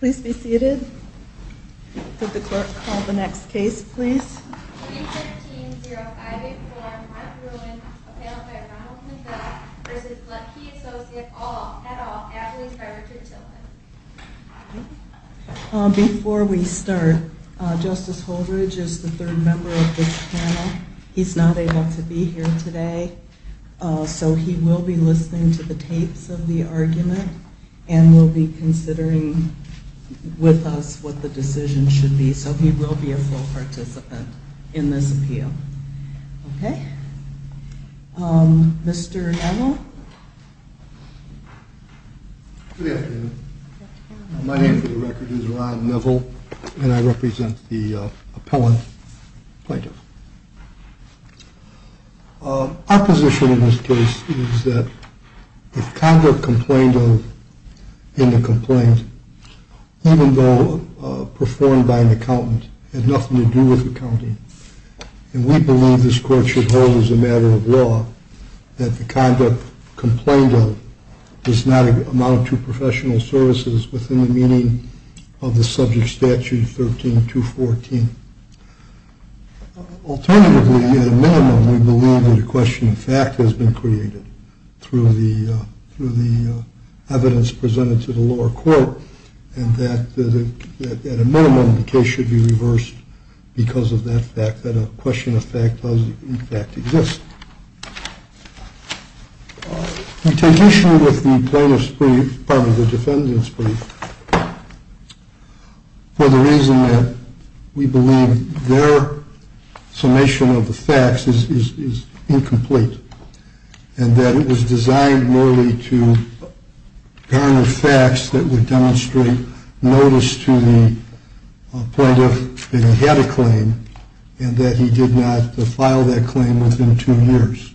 Please be seated. Could the court call the next case, please? Before we start, Justice Holdridge is the third member of this panel. He's not able to be here today, so he will be listening to the tapes of the argument and will be considering with us what the decision should be. So he will be a full participant in this appeal. Okay? Mr. Neville? Good afternoon. My name, for the record, is Ron Neville, and I represent the appellant plaintiff. Our position in this case is that the conduct complained of in the complaint, even though performed by an accountant, had nothing to do with accounting. And we believe this court should hold as a matter of law that the conduct complained of does not amount to professional services within the meaning of the subject statute 13-214. Alternatively, at a minimum, we believe that a question of fact has been created through the evidence presented to the lower court, and that at a minimum the case should be reversed because of that fact, that a question of fact does, in fact, exist. We take issue with the plaintiff's brief, part of the defendant's brief, for the reason that we believe their summation of the facts is incomplete and that it was designed merely to garner facts that would demonstrate notice to the plaintiff that he had a claim and that he did not file that claim within two years.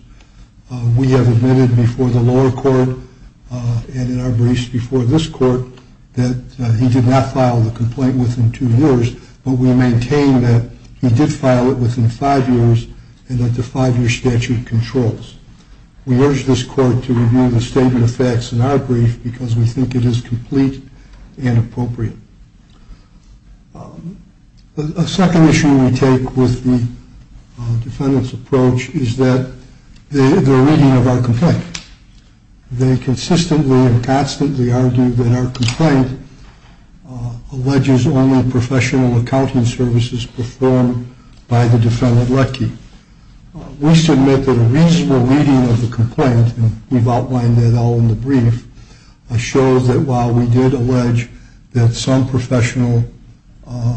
We have admitted before the lower court and in our briefs before this court that he did not file the complaint within two years, but we maintain that he did file it within five years and that the five-year statute controls. We urge this court to review the statement of facts in our brief because we think it is complete and appropriate. A second issue we take with the defendant's approach is that their reading of our complaint. They consistently and constantly argue that our complaint alleges only professional accounting services performed by the defendant, Leckie. We submit that a reasonable reading of the complaint, and we've outlined that all in the brief, shows that while we did allege that some professional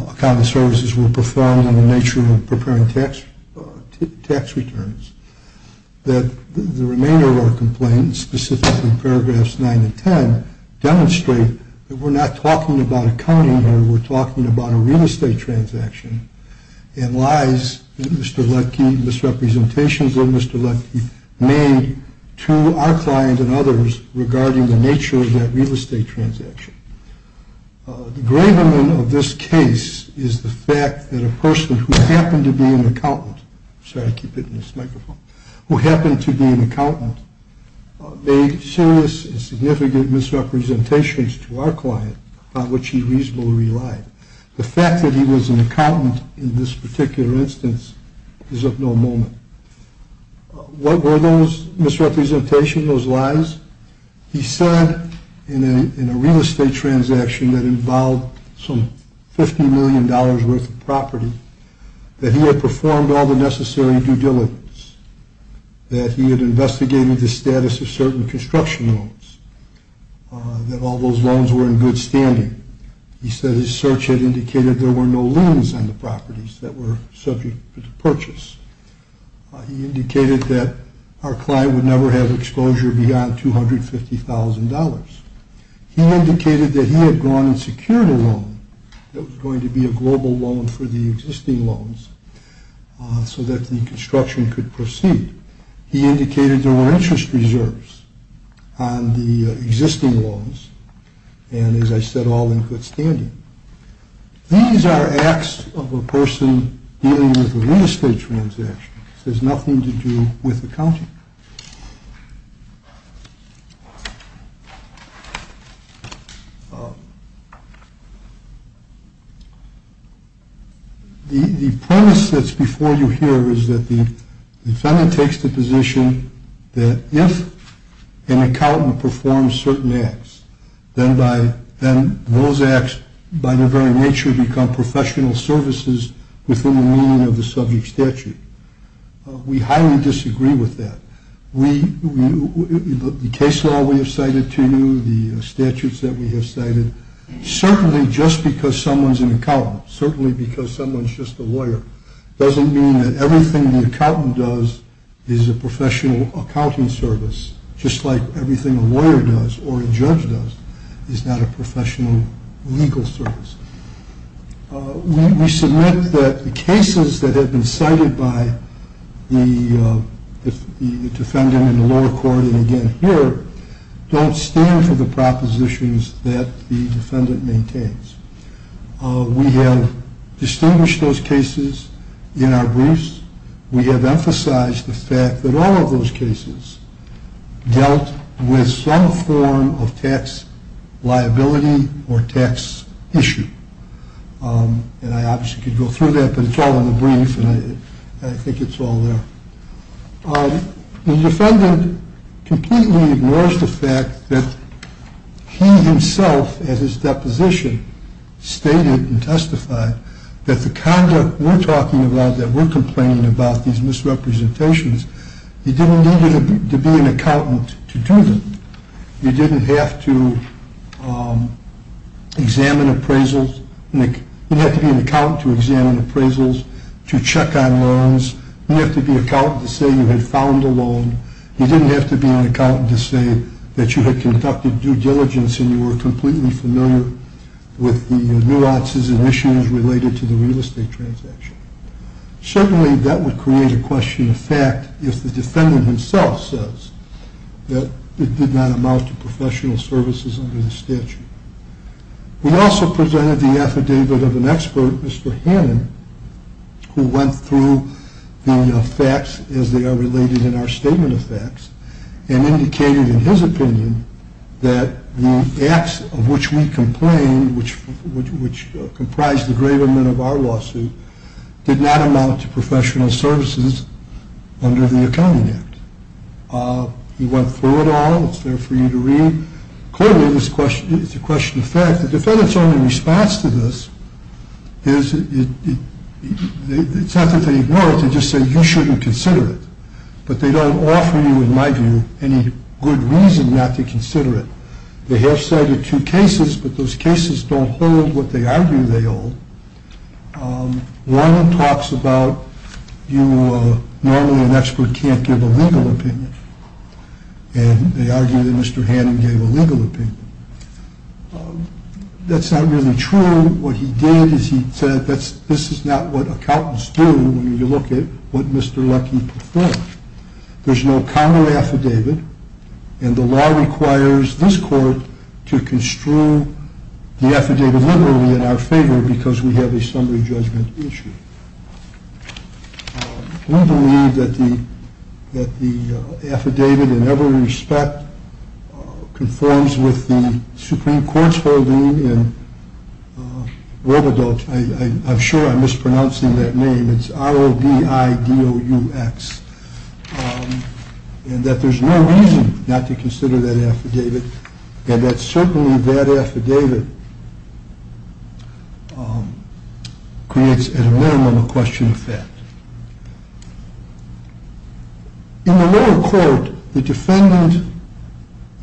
accounting services were performed in the nature of preparing tax returns, that the remainder of our complaint, specifically paragraphs 9 and 10, demonstrate that we're not talking about accounting here. We're talking about a real estate transaction and lies that Mr. Leckie, misrepresentations that Mr. Leckie made to our client and others regarding the nature of that real estate transaction. The grave element of this case is the fact that a person who happened to be an accountant, sorry I keep hitting this microphone, who happened to be an accountant made serious and significant misrepresentations to our client on which he reasonably relied. The fact that he was an accountant in this particular instance is of no moment. What were those misrepresentations, those lies? He said in a real estate transaction that involved some $50 million worth of property, that he had performed all the necessary due diligence, that he had investigated the status of certain construction loans, that all those loans were in good standing. He said his search had indicated there were no loans on the properties that were subject to purchase. He indicated that our client would never have exposure beyond $250,000. He indicated that he had gone and secured a loan, that was going to be a global loan for the existing loans, so that the construction could proceed. He indicated there were interest reserves on the existing loans, and as I said, all in good standing. These are acts of a person dealing with a real estate transaction. It has nothing to do with accounting. The premise that's before you here is that the defendant takes the position that if an accountant performs certain acts, then those acts by their very nature become professional services within the meaning of the subject statute. We highly disagree with that. The case law we have cited to you, the statutes that we have cited, certainly just because someone's an accountant, certainly because someone's just a lawyer, doesn't mean that everything the accountant does is a professional accounting service, just like everything a lawyer does or a judge does is not a professional legal service. We submit that the cases that have been cited by the defendant in the lower court, and again here, don't stand for the propositions that the defendant maintains. We have distinguished those cases in our briefs. We have emphasized the fact that all of those cases dealt with some form of tax liability or tax issue. And I obviously could go through that, but it's all in the brief, and I think it's all there. The defendant completely ignores the fact that he himself, at his deposition, stated and testified that the conduct we're talking about, that we're complaining about, these misrepresentations, he didn't need to be an accountant to do them. He didn't have to examine appraisals. He didn't have to be an accountant to examine appraisals, to check on loans. He didn't have to be an accountant to say you had found a loan. He didn't have to be an accountant to say that you had conducted due diligence and you were completely familiar with the nuances and issues related to the real estate transaction. Certainly, that would create a question of fact if the defendant himself says that it did not amount to professional services under the statute. We also presented the affidavit of an expert, Mr. Hannon, who went through the facts as they are related in our statement of facts and indicated in his opinion that the acts of which we complained, which comprised the greater men of our lawsuit, did not amount to professional services under the Accounting Act. He went through it all. It's there for you to read. Clearly, it's a question of fact. The defendant's only response to this is it's not that they ignore it. They just say you shouldn't consider it. But they don't offer you, in my view, any good reason not to consider it. They have cited two cases, but those cases don't hold what they argue they hold. One talks about normally an expert can't give a legal opinion. And they argue that Mr. Hannon gave a legal opinion. That's not really true. What he did is he said this is not what accountants do when you look at what Mr. Luckey performed. There's no counter-affidavit, and the law requires this court to construe the affidavit literally in our favor because we have a summary judgment issue. We believe that the affidavit, in every respect, conforms with the Supreme Court's holding in Robidoux. I'm sure I'm mispronouncing that name. It's R-O-B-I-D-O-U-X. And that there's no reason not to consider that affidavit. And that certainly that affidavit creates at a minimum a question of fact. In the lower court, the defendant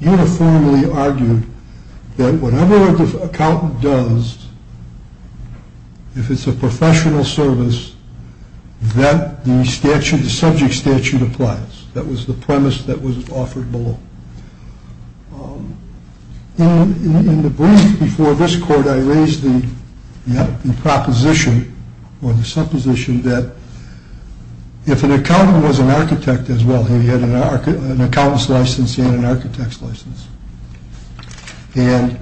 uniformly argued that whatever the accountant does, if it's a professional service, that the subject statute applies. That was the premise that was offered below. In the brief before this court, I raised the proposition or the supposition that if an accountant was an architect as well, he had an accountant's license and an architect's license. And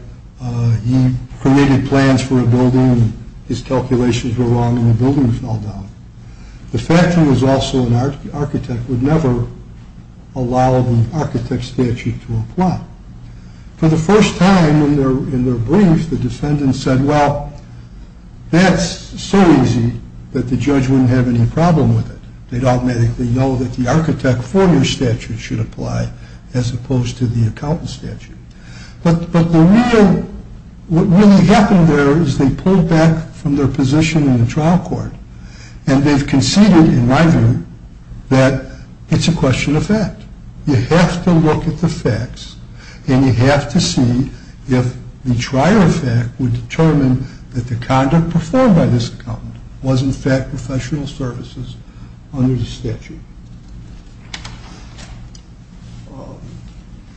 he created plans for a building and his calculations were wrong and the building fell down. The fact that he was also an architect would never allow the architect statute to apply. For the first time in their brief, the defendant said, well, that's so easy that the judge wouldn't have any problem with it. They'd automatically know that the architect former statute should apply as opposed to the accountant statute. But what really happened there is they pulled back from their position in the trial court and they've conceded, in my view, that it's a question of fact. You have to look at the facts and you have to see if the trial fact would determine that the conduct performed by this accountant was in fact professional services under the statute.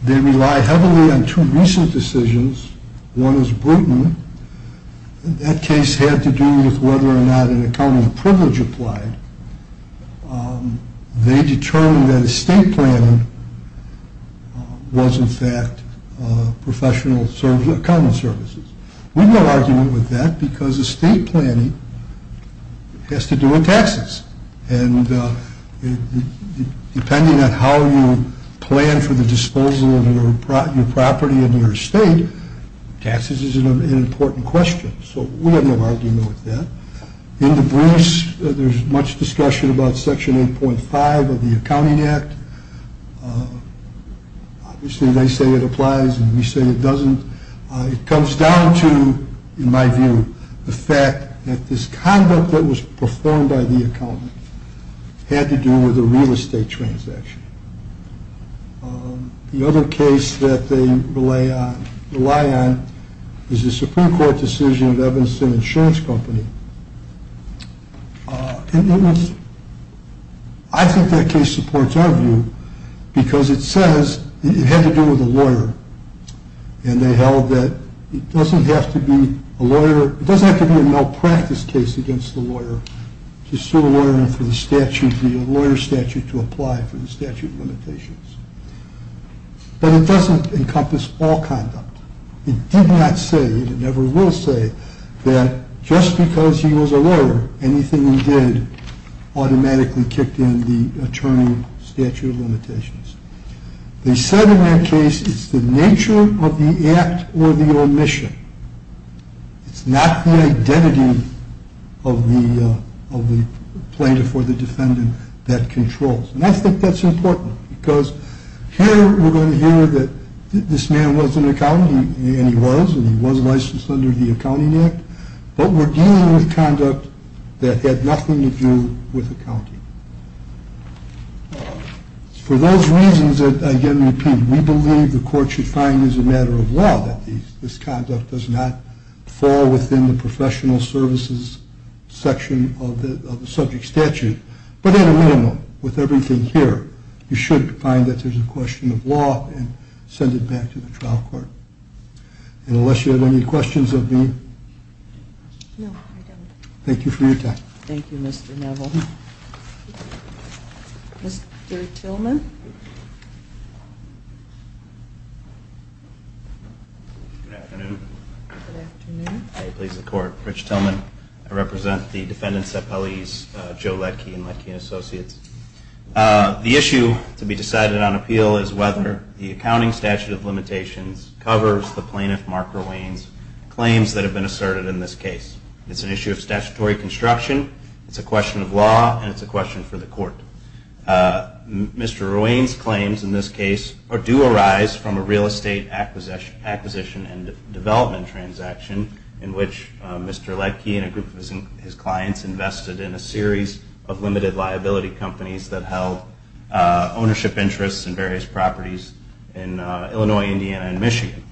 They rely heavily on two recent decisions. One is Bruton. That case had to do with whether or not an accountant privilege applied. They determined that estate planning was in fact professional services, accountant services. We have no argument with that because estate planning has to do with taxes. And depending on how you plan for the disposal of your property and your estate, taxes is an important question. So we have no argument with that. In the briefs, there's much discussion about Section 8.5 of the Accounting Act. Obviously, they say it applies and we say it doesn't. It comes down to, in my view, the fact that this conduct that was performed by the accountant had to do with a real estate transaction. The other case that they rely on is the Supreme Court decision of Evanston Insurance Company. I think that case supports our view because it says it had to do with a lawyer. And they held that it doesn't have to be a lawyer. It doesn't have to be a malpractice case against the lawyer to sue a lawyer for the statute, the lawyer statute to apply for the statute of limitations. But it doesn't encompass all conduct. It did not say, and never will say, that just because he was a lawyer, anything he did automatically kicked in the attorney statute of limitations. They said in that case it's the nature of the act or the omission. It's not the identity of the plaintiff or the defendant that controls. And I think that's important because here we're going to hear that this man was an accountant. And he was. And he was licensed under the Accounting Act. But we're dealing with conduct that had nothing to do with accounting. For those reasons that I again repeat, we believe the court should find as a matter of law that this conduct does not fall within the professional services section of the subject statute. But at a minimum, with everything here, you should find that there's a question of law and send it back to the trial court. And unless you have any questions of me. No, I don't. Thank you for your time. Thank you, Mr. Neville. Mr. Tillman. Good afternoon. Good afternoon. I please the court. Rich Tillman. I represent the defendants at Pelley's, Joe Ledtke and Ledtke and Associates. The issue to be decided on appeal is whether the accounting statute of limitations covers the plaintiff, Mark Ruane's, claims that have been asserted in this case. It's an issue of statutory construction. It's a question of law. And it's a question for the court. Mr. Ruane's claims in this case do arise from a real estate acquisition and development transaction in which Mr. Ledtke and a group of his clients invested in a series of limited liability companies that held ownership interests in various properties in Illinois, Indiana, and Michigan.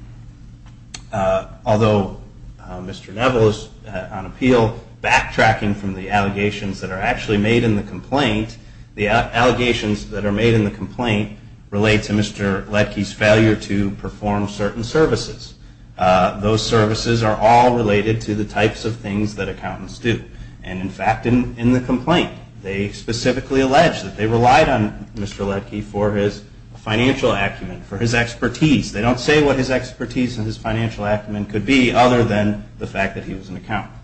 Although Mr. Neville is on appeal, backtracking from the allegations that are actually made in the complaint, the allegations that are made in the complaint relate to Mr. Ledtke's failure to perform certain services. Those services are all related to the types of things that accountants do. And in fact, in the complaint, they specifically allege that they relied on Mr. Ledtke for his financial acumen, for his expertise. They don't say what his expertise and his financial acumen could be other than the fact that he was an accountant.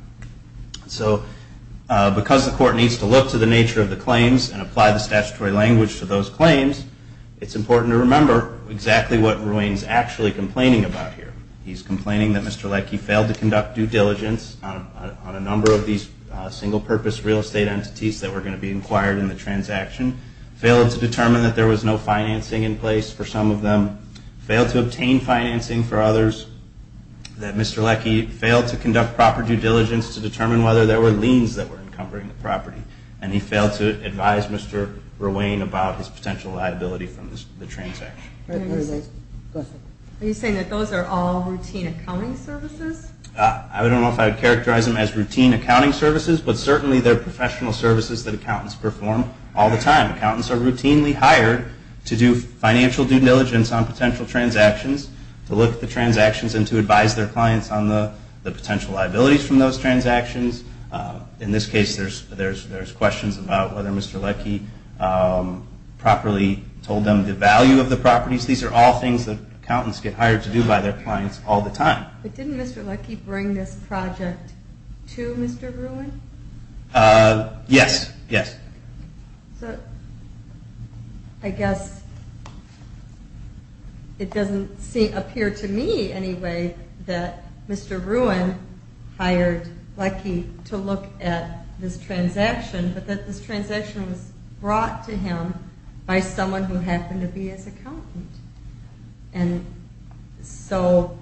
So because the court needs to look to the nature of the claims and apply the statutory language to those claims, it's important to remember exactly what Ruane's actually complaining about here. He's complaining that Mr. Ledtke failed to conduct due diligence on a number of these single-purpose real estate entities that were going to be inquired in the transaction, failed to determine that there was no financing in place for some of them, failed to obtain financing for others, that Mr. Ledtke failed to conduct proper due diligence to determine whether there were liens that were encumbering the property, and he failed to advise Mr. Ruane about his potential liability from the transaction. Are you saying that those are all routine accounting services? I don't know if I would characterize them as routine accounting services, but certainly they're professional services that accountants perform all the time. Accountants are routinely hired to do financial due diligence on potential transactions, to look at the transactions and to advise their clients on the potential liabilities from those transactions. In this case, there's questions about whether Mr. Ledtke properly told them the value of the properties. These are all things that accountants get hired to do by their clients all the time. But didn't Mr. Ledtke bring this project to Mr. Ruane? Yes, yes. So I guess it doesn't appear to me anyway that Mr. Ruane hired Ledtke to look at this transaction, but that this transaction was brought to him by someone who happened to be his accountant. And so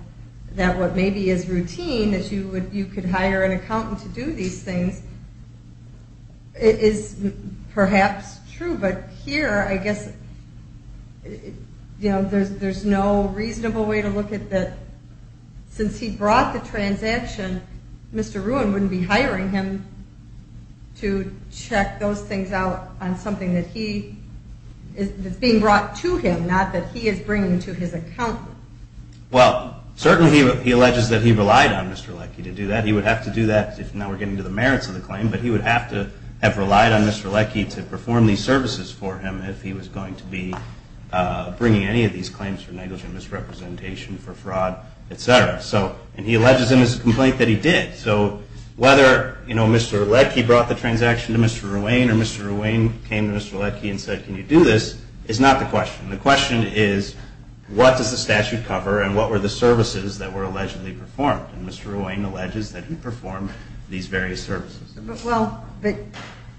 that what may be as routine as you could hire an accountant to do these things is perhaps true, but here I guess there's no reasonable way to look at that. Since he brought the transaction, Mr. Ruane wouldn't be hiring him to check those things out on something that's being brought to him, not that he is bringing to his accountant. Well, certainly he alleges that he relied on Mr. Ledtke to do that. He would have to do that if now we're getting to the merits of the claim, but he would have to have relied on Mr. Ledtke to perform these services for him if he was going to be bringing any of these claims for negligent misrepresentation, for fraud, et cetera. And he alleges in his complaint that he did. So whether Mr. Ledtke brought the transaction to Mr. Ruane or Mr. Ruane came to Mr. Ledtke and said, can you do this, is not the question. The question is, what does the statute cover and what were the services that were allegedly performed? And Mr. Ruane alleges that he performed these various services. Well, but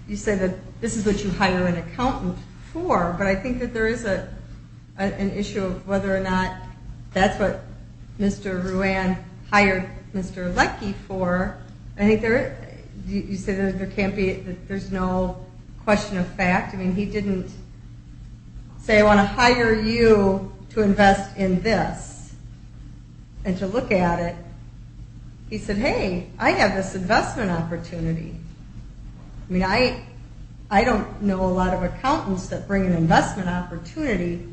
you say that this is what you hire an accountant for, but I think that there is an issue of whether or not that's what Mr. Ruane hired Mr. Ledtke for. You say that there's no question of fact. I mean, he didn't say, I want to hire you to invest in this and to look at it. He said, hey, I have this investment opportunity. I mean, I don't know a lot of accountants that bring an investment opportunity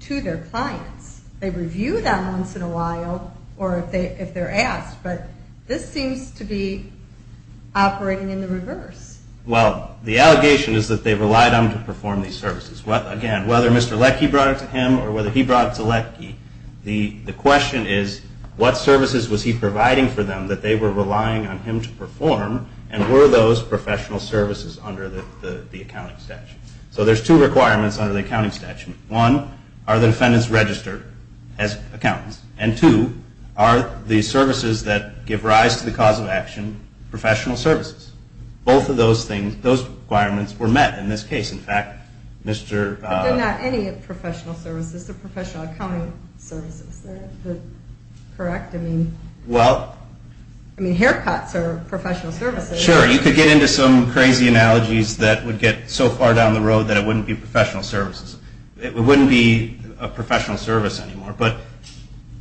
to their clients. They review them once in a while or if they're asked, but this seems to be operating in the reverse. Well, the allegation is that they relied on him to perform these services. Again, whether Mr. Ledtke brought it to him or whether he brought it to Ledtke, the question is, what services was he providing for them that they were relying on him to perform and were those professional services under the accounting statute? So there's two requirements under the accounting statute. One, are the defendants registered as accountants? And two, are the services that give rise to the cause of action professional services? Both of those things, those requirements were met in this case, in fact. But they're not any professional services. They're professional accounting services. Is that correct? Well. I mean, haircuts are professional services. Sure, you could get into some crazy analogies that would get so far down the road that it wouldn't be professional services. It wouldn't be a professional service anymore. But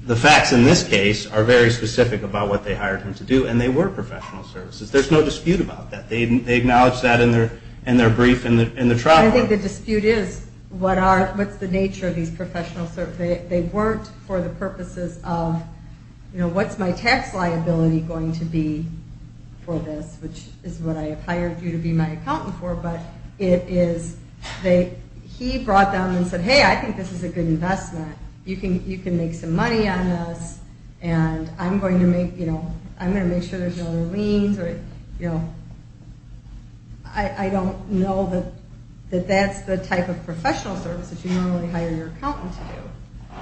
the facts in this case are very specific about what they hired him to do, and they were professional services. There's no dispute about that. They acknowledge that in their brief and their trial report. I think the dispute is what's the nature of these professional services. They weren't for the purposes of what's my tax liability going to be for this, which is what I have hired you to be my accountant for, but he brought them and said, hey, I think this is a good investment. You can make some money on this, and I'm going to make sure there's no other liens. I don't know that that's the type of professional services you normally hire your accountant to do.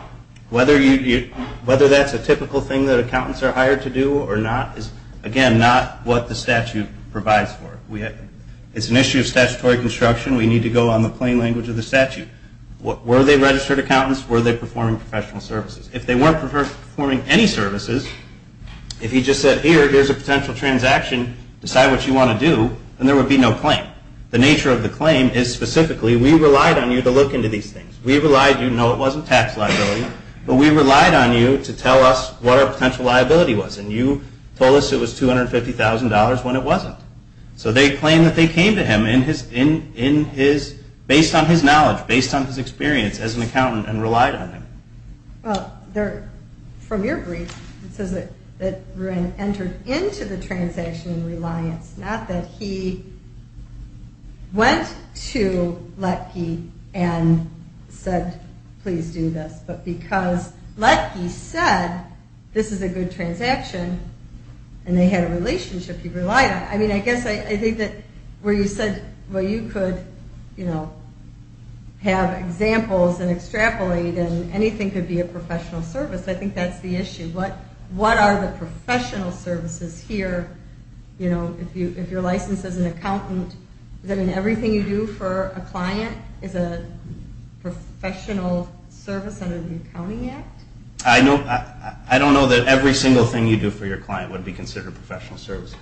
Whether that's a typical thing that accountants are hired to do or not is, again, not what the statute provides for. It's an issue of statutory construction. We need to go on the plain language of the statute. Were they registered accountants? Were they performing professional services? If they weren't performing any services, if he just said, here's a potential transaction, decide what you want to do, then there would be no claim. The nature of the claim is specifically we relied on you to look into these things. We relied on you to know it wasn't tax liability, but we relied on you to tell us what our potential liability was, and you told us it was $250,000 when it wasn't. So they claim that they came to him based on his knowledge, based on his experience as an accountant and relied on him. From your brief, it says that Ruan entered into the transaction in reliance, not that he went to Letke and said, please do this, but because Letke said this is a good transaction and they had a relationship he relied on. I mean, I guess I think that where you said you could have examples and extrapolate and anything could be a professional service, I think that's the issue. What are the professional services here, you know, if you're licensed as an accountant, then everything you do for a client is a professional service under the Accounting Act? I don't know that every single thing you do for your client would be considered professional service.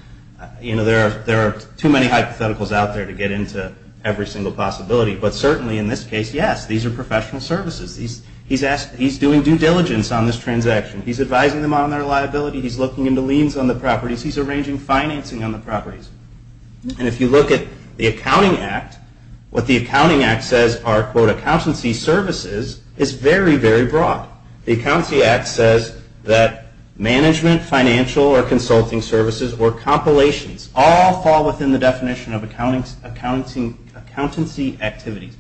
You know, there are too many hypotheticals out there to get into every single possibility, but certainly in this case, yes, these are professional services. He's doing due diligence on this transaction. He's advising them on their liability. He's looking into liens on the properties. He's arranging financing on the properties. And if you look at the Accounting Act, what the Accounting Act says are, quote, accountancy services is very, very broad. The Accountancy Act says that management, financial, or consulting services or compilations all fall within the definition of accountancy activities.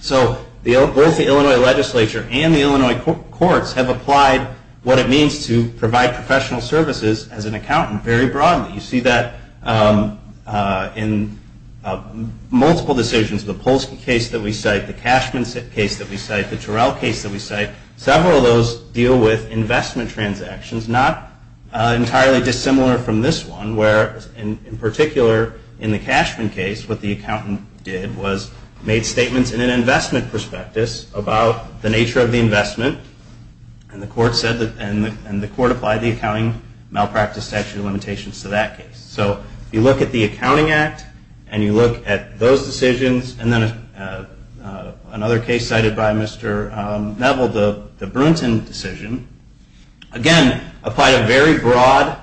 So both the Illinois legislature and the Illinois courts have applied what it means to provide professional services as an accountant very broadly. You see that in multiple decisions, the Polsky case that we cite, the Cashman case that we cite, the Terrell case that we cite, several of those deal with investment transactions, not entirely dissimilar from this one where, in particular, in the Cashman case, what the accountant did was made statements in an investment prospectus about the nature of the investment, and the court applied the accounting malpractice statute of limitations to that case. So if you look at the Accounting Act and you look at those decisions, and then another case cited by Mr. Neville, the Brunton decision, again, in fact, the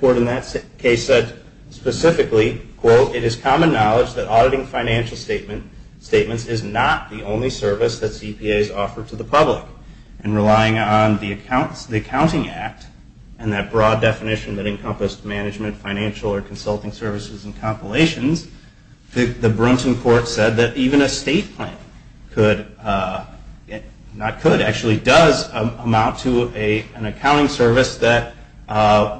court in that case said specifically, quote, it is common knowledge that auditing financial statements is not the only service that CPAs offer to the public. And relying on the Accounting Act and that broad definition that encompassed management, financial, or consulting services and compilations, the Brunton court said that even a state plan could, not could, actually does amount to an accounting service that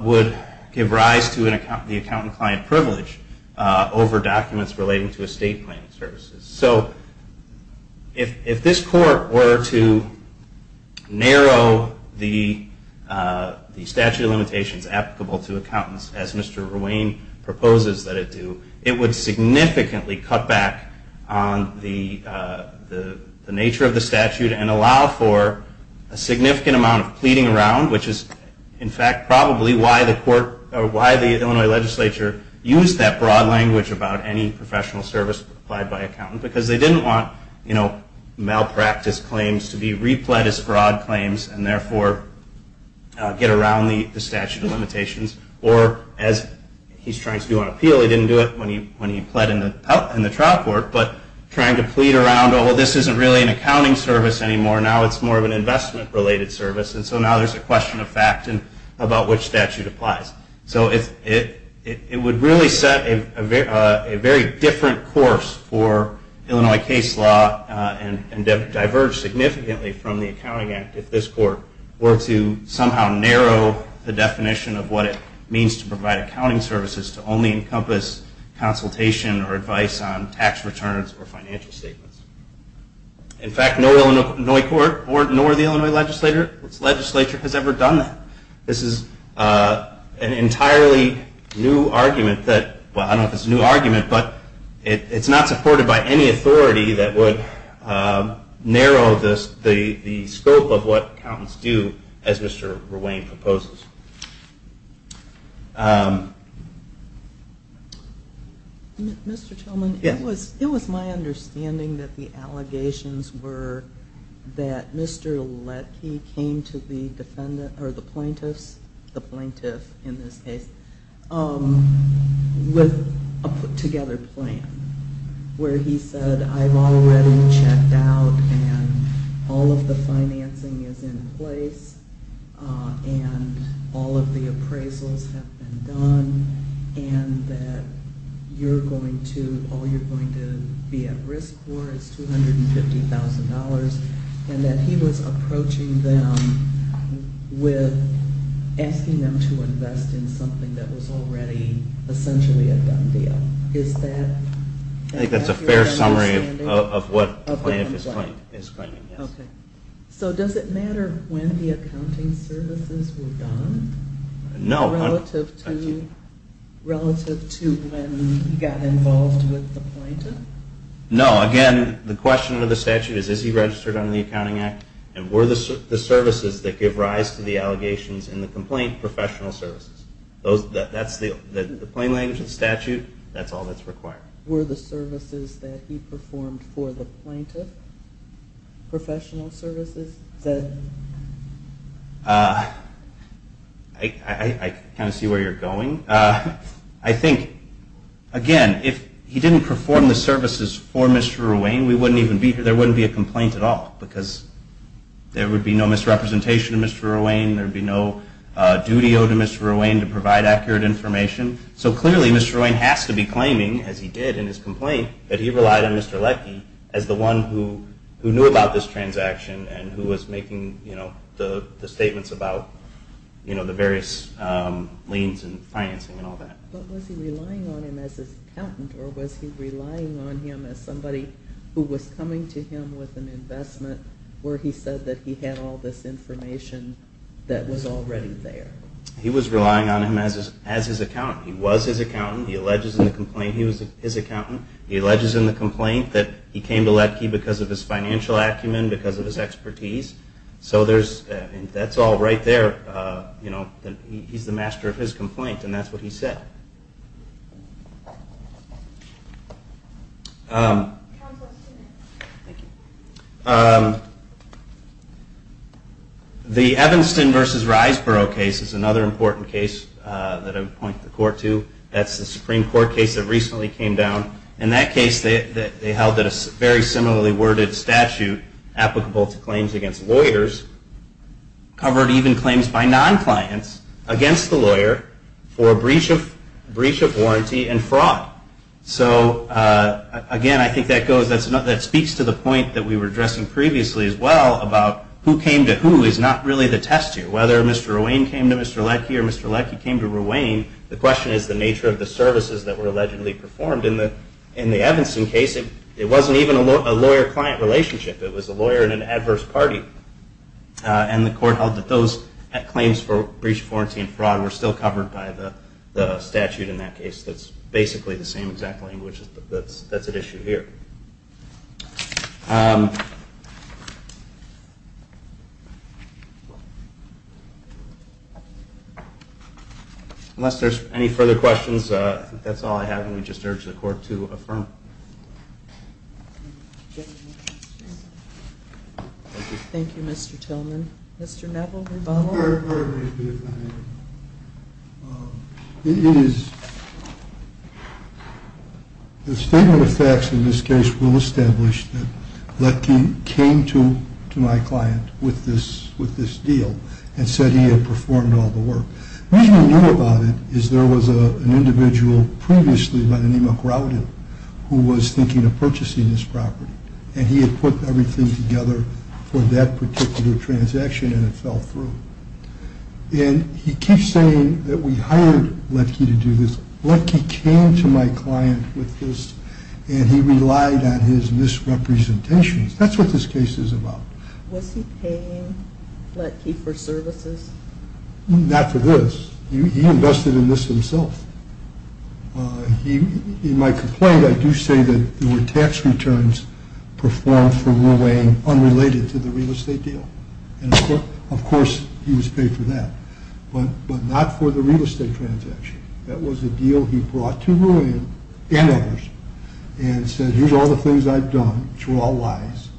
would give rise to the accountant-client privilege over documents relating to estate planning services. So if this court were to narrow the statute of limitations applicable to accountants as Mr. Ruane proposes that it do, it would significantly cut back on the nature of the statute and allow for a significant amount of pleading around, which is, in fact, probably why the court, or why the Illinois legislature used that broad language about any professional service applied by accountants, because they didn't want malpractice claims to be replet as broad claims and therefore get around the statute of limitations. Or as he's trying to do on appeal, he didn't do it when he pled in the trial court, but trying to plead around, oh, this isn't really an accounting service anymore, now it's more of an investment-related service, and so now there's a question of fact about which statute applies. So it would really set a very different course for Illinois case law and diverge significantly from the accounting act if this court were to somehow narrow the definition of what it means to provide accounting services to only encompass consultation or advice on tax returns or financial statements. In fact, no Illinois court, nor the Illinois legislature, has ever done that. This is an entirely new argument that, well, I don't know if it's a new argument, but it's not supported by any authority that would narrow the scope of what accountants do, as Mr. Ruane proposes. Mr. Tillman, it was my understanding that the allegations were that Mr. Letke came to the plaintiffs, the plaintiff in this case, with a put-together plan where he said, I've already checked out and all of the financing is in place, and all of the appraisals have been done, and that all you're going to be at risk for is $250,000, and that he was approaching them with asking them to invest in something that was already essentially a done deal. I think that's a fair summary of what the plaintiff is claiming, yes. Okay. So does it matter when the accounting services were done? No. Relative to when he got involved with the plaintiff? No. Again, the question under the statute is, is he registered under the Accounting Act, and were the services that give rise to the allegations in the complaint professional services? That's the plain language of the statute. That's all that's required. Were the services that he performed for the plaintiff professional services? I kind of see where you're going. I think, again, if he didn't perform the services for Mr. Ruane, there wouldn't be a complaint at all, because there would be no misrepresentation of Mr. Ruane, there would be no duty owed to Mr. Ruane to provide accurate information. So clearly Mr. Ruane has to be claiming, as he did in his complaint, that he relied on Mr. Leckie as the one who knew about this transaction and who was making the statements about the various liens and financing and all that. But was he relying on him as his accountant, or was he relying on him as somebody who was coming to him with an investment where he said that he had all this information that was already there? He was relying on him as his accountant. He was his accountant. He alleges in the complaint he was his accountant. He alleges in the complaint that he came to Leckie because of his financial acumen, because of his expertise. So that's all right there. He's the master of his complaint, and that's what he said. The Evanston v. Riseboro case is another important case that I would point the court to. That's the Supreme Court case that recently came down. In that case they held that a very similarly worded statute applicable to claims against lawyers covered even claims by non-clients against the lawyer for breach of warranty and fraud. So, again, I think that speaks to the point that we were addressing previously as well about who came to who is not really the test here. Whether Mr. Ruane came to Mr. Leckie or Mr. Leckie came to Ruane, the question is the nature of the services that were allegedly performed. In the Evanston case, it wasn't even a lawyer-client relationship. It was a lawyer in an adverse party. And the court held that those claims for breach of warranty and fraud were still covered by the statute in that case that's basically the same exact language that's at issue here. Unless there's any further questions, I think that's all I have, and we just urge the court to affirm. Thank you, Mr. Tillman. Mr. Neville? The statement of facts in this case will establish that Leckie came to my client with this deal and said he had performed all the work. The reason he knew about it is there was an individual previously by the name of Rowden who was thinking of purchasing this property, and he had put everything together for that particular transaction, and it fell through. And he keeps saying that we hired Leckie to do this. Leckie came to my client with this, and he relied on his misrepresentations. That's what this case is about. Was he paying Leckie for services? Not for this. He invested in this himself. In my complaint, I do say that there were tax returns performed for Rowen unrelated to the real estate deal, and, of course, he was paid for that, but not for the real estate transaction. That was a deal he brought to Rowen and others and said, here's all the things I've done through all lies,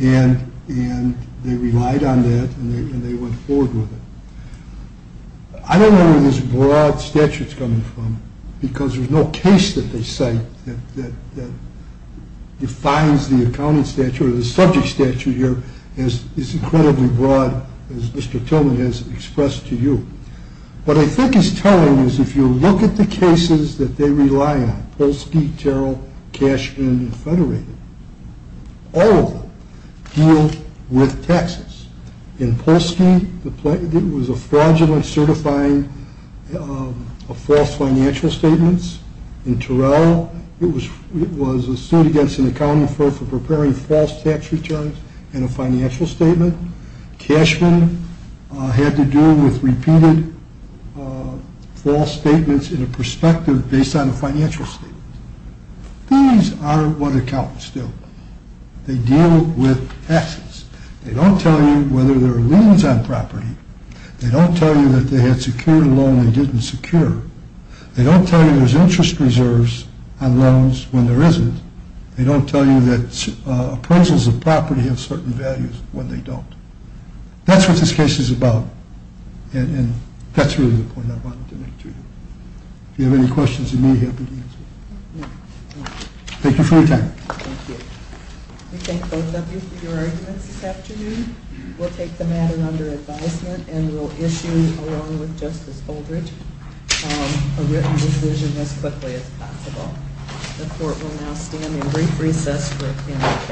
and they relied on that and they went forward with it. I don't know where this broad statute's coming from, because there's no case that they cite that defines the accounting statute or the subject statute here is incredibly broad, as Mr. Tillman has expressed to you. What I think he's telling is if you look at the cases that they rely on, Polsky, Terrell, Cashman, and Federated, all of them deal with taxes. In Polsky, it was a fraudulent certifying of false financial statements. In Terrell, it was a suit against an accounting firm for preparing false tax returns in a financial statement. Cashman had to deal with repeated false statements in a perspective based on a financial statement. These are what accountants do. They deal with taxes. They don't tell you whether there are loans on property. They don't tell you that they had secured a loan they didn't secure. They don't tell you there's interest reserves on loans when there isn't. They don't tell you that appraisals of property have certain values when they don't. That's what this case is about, and that's really the point I wanted to make to you. If you have any questions, you may be happy to answer. Thank you for your time. Thank you. We thank both of you for your arguments this afternoon. We'll take the matter under advisement and we'll issue, along with Justice Oldridge, a written decision as quickly as possible. The court will now stand in brief recess for a final case.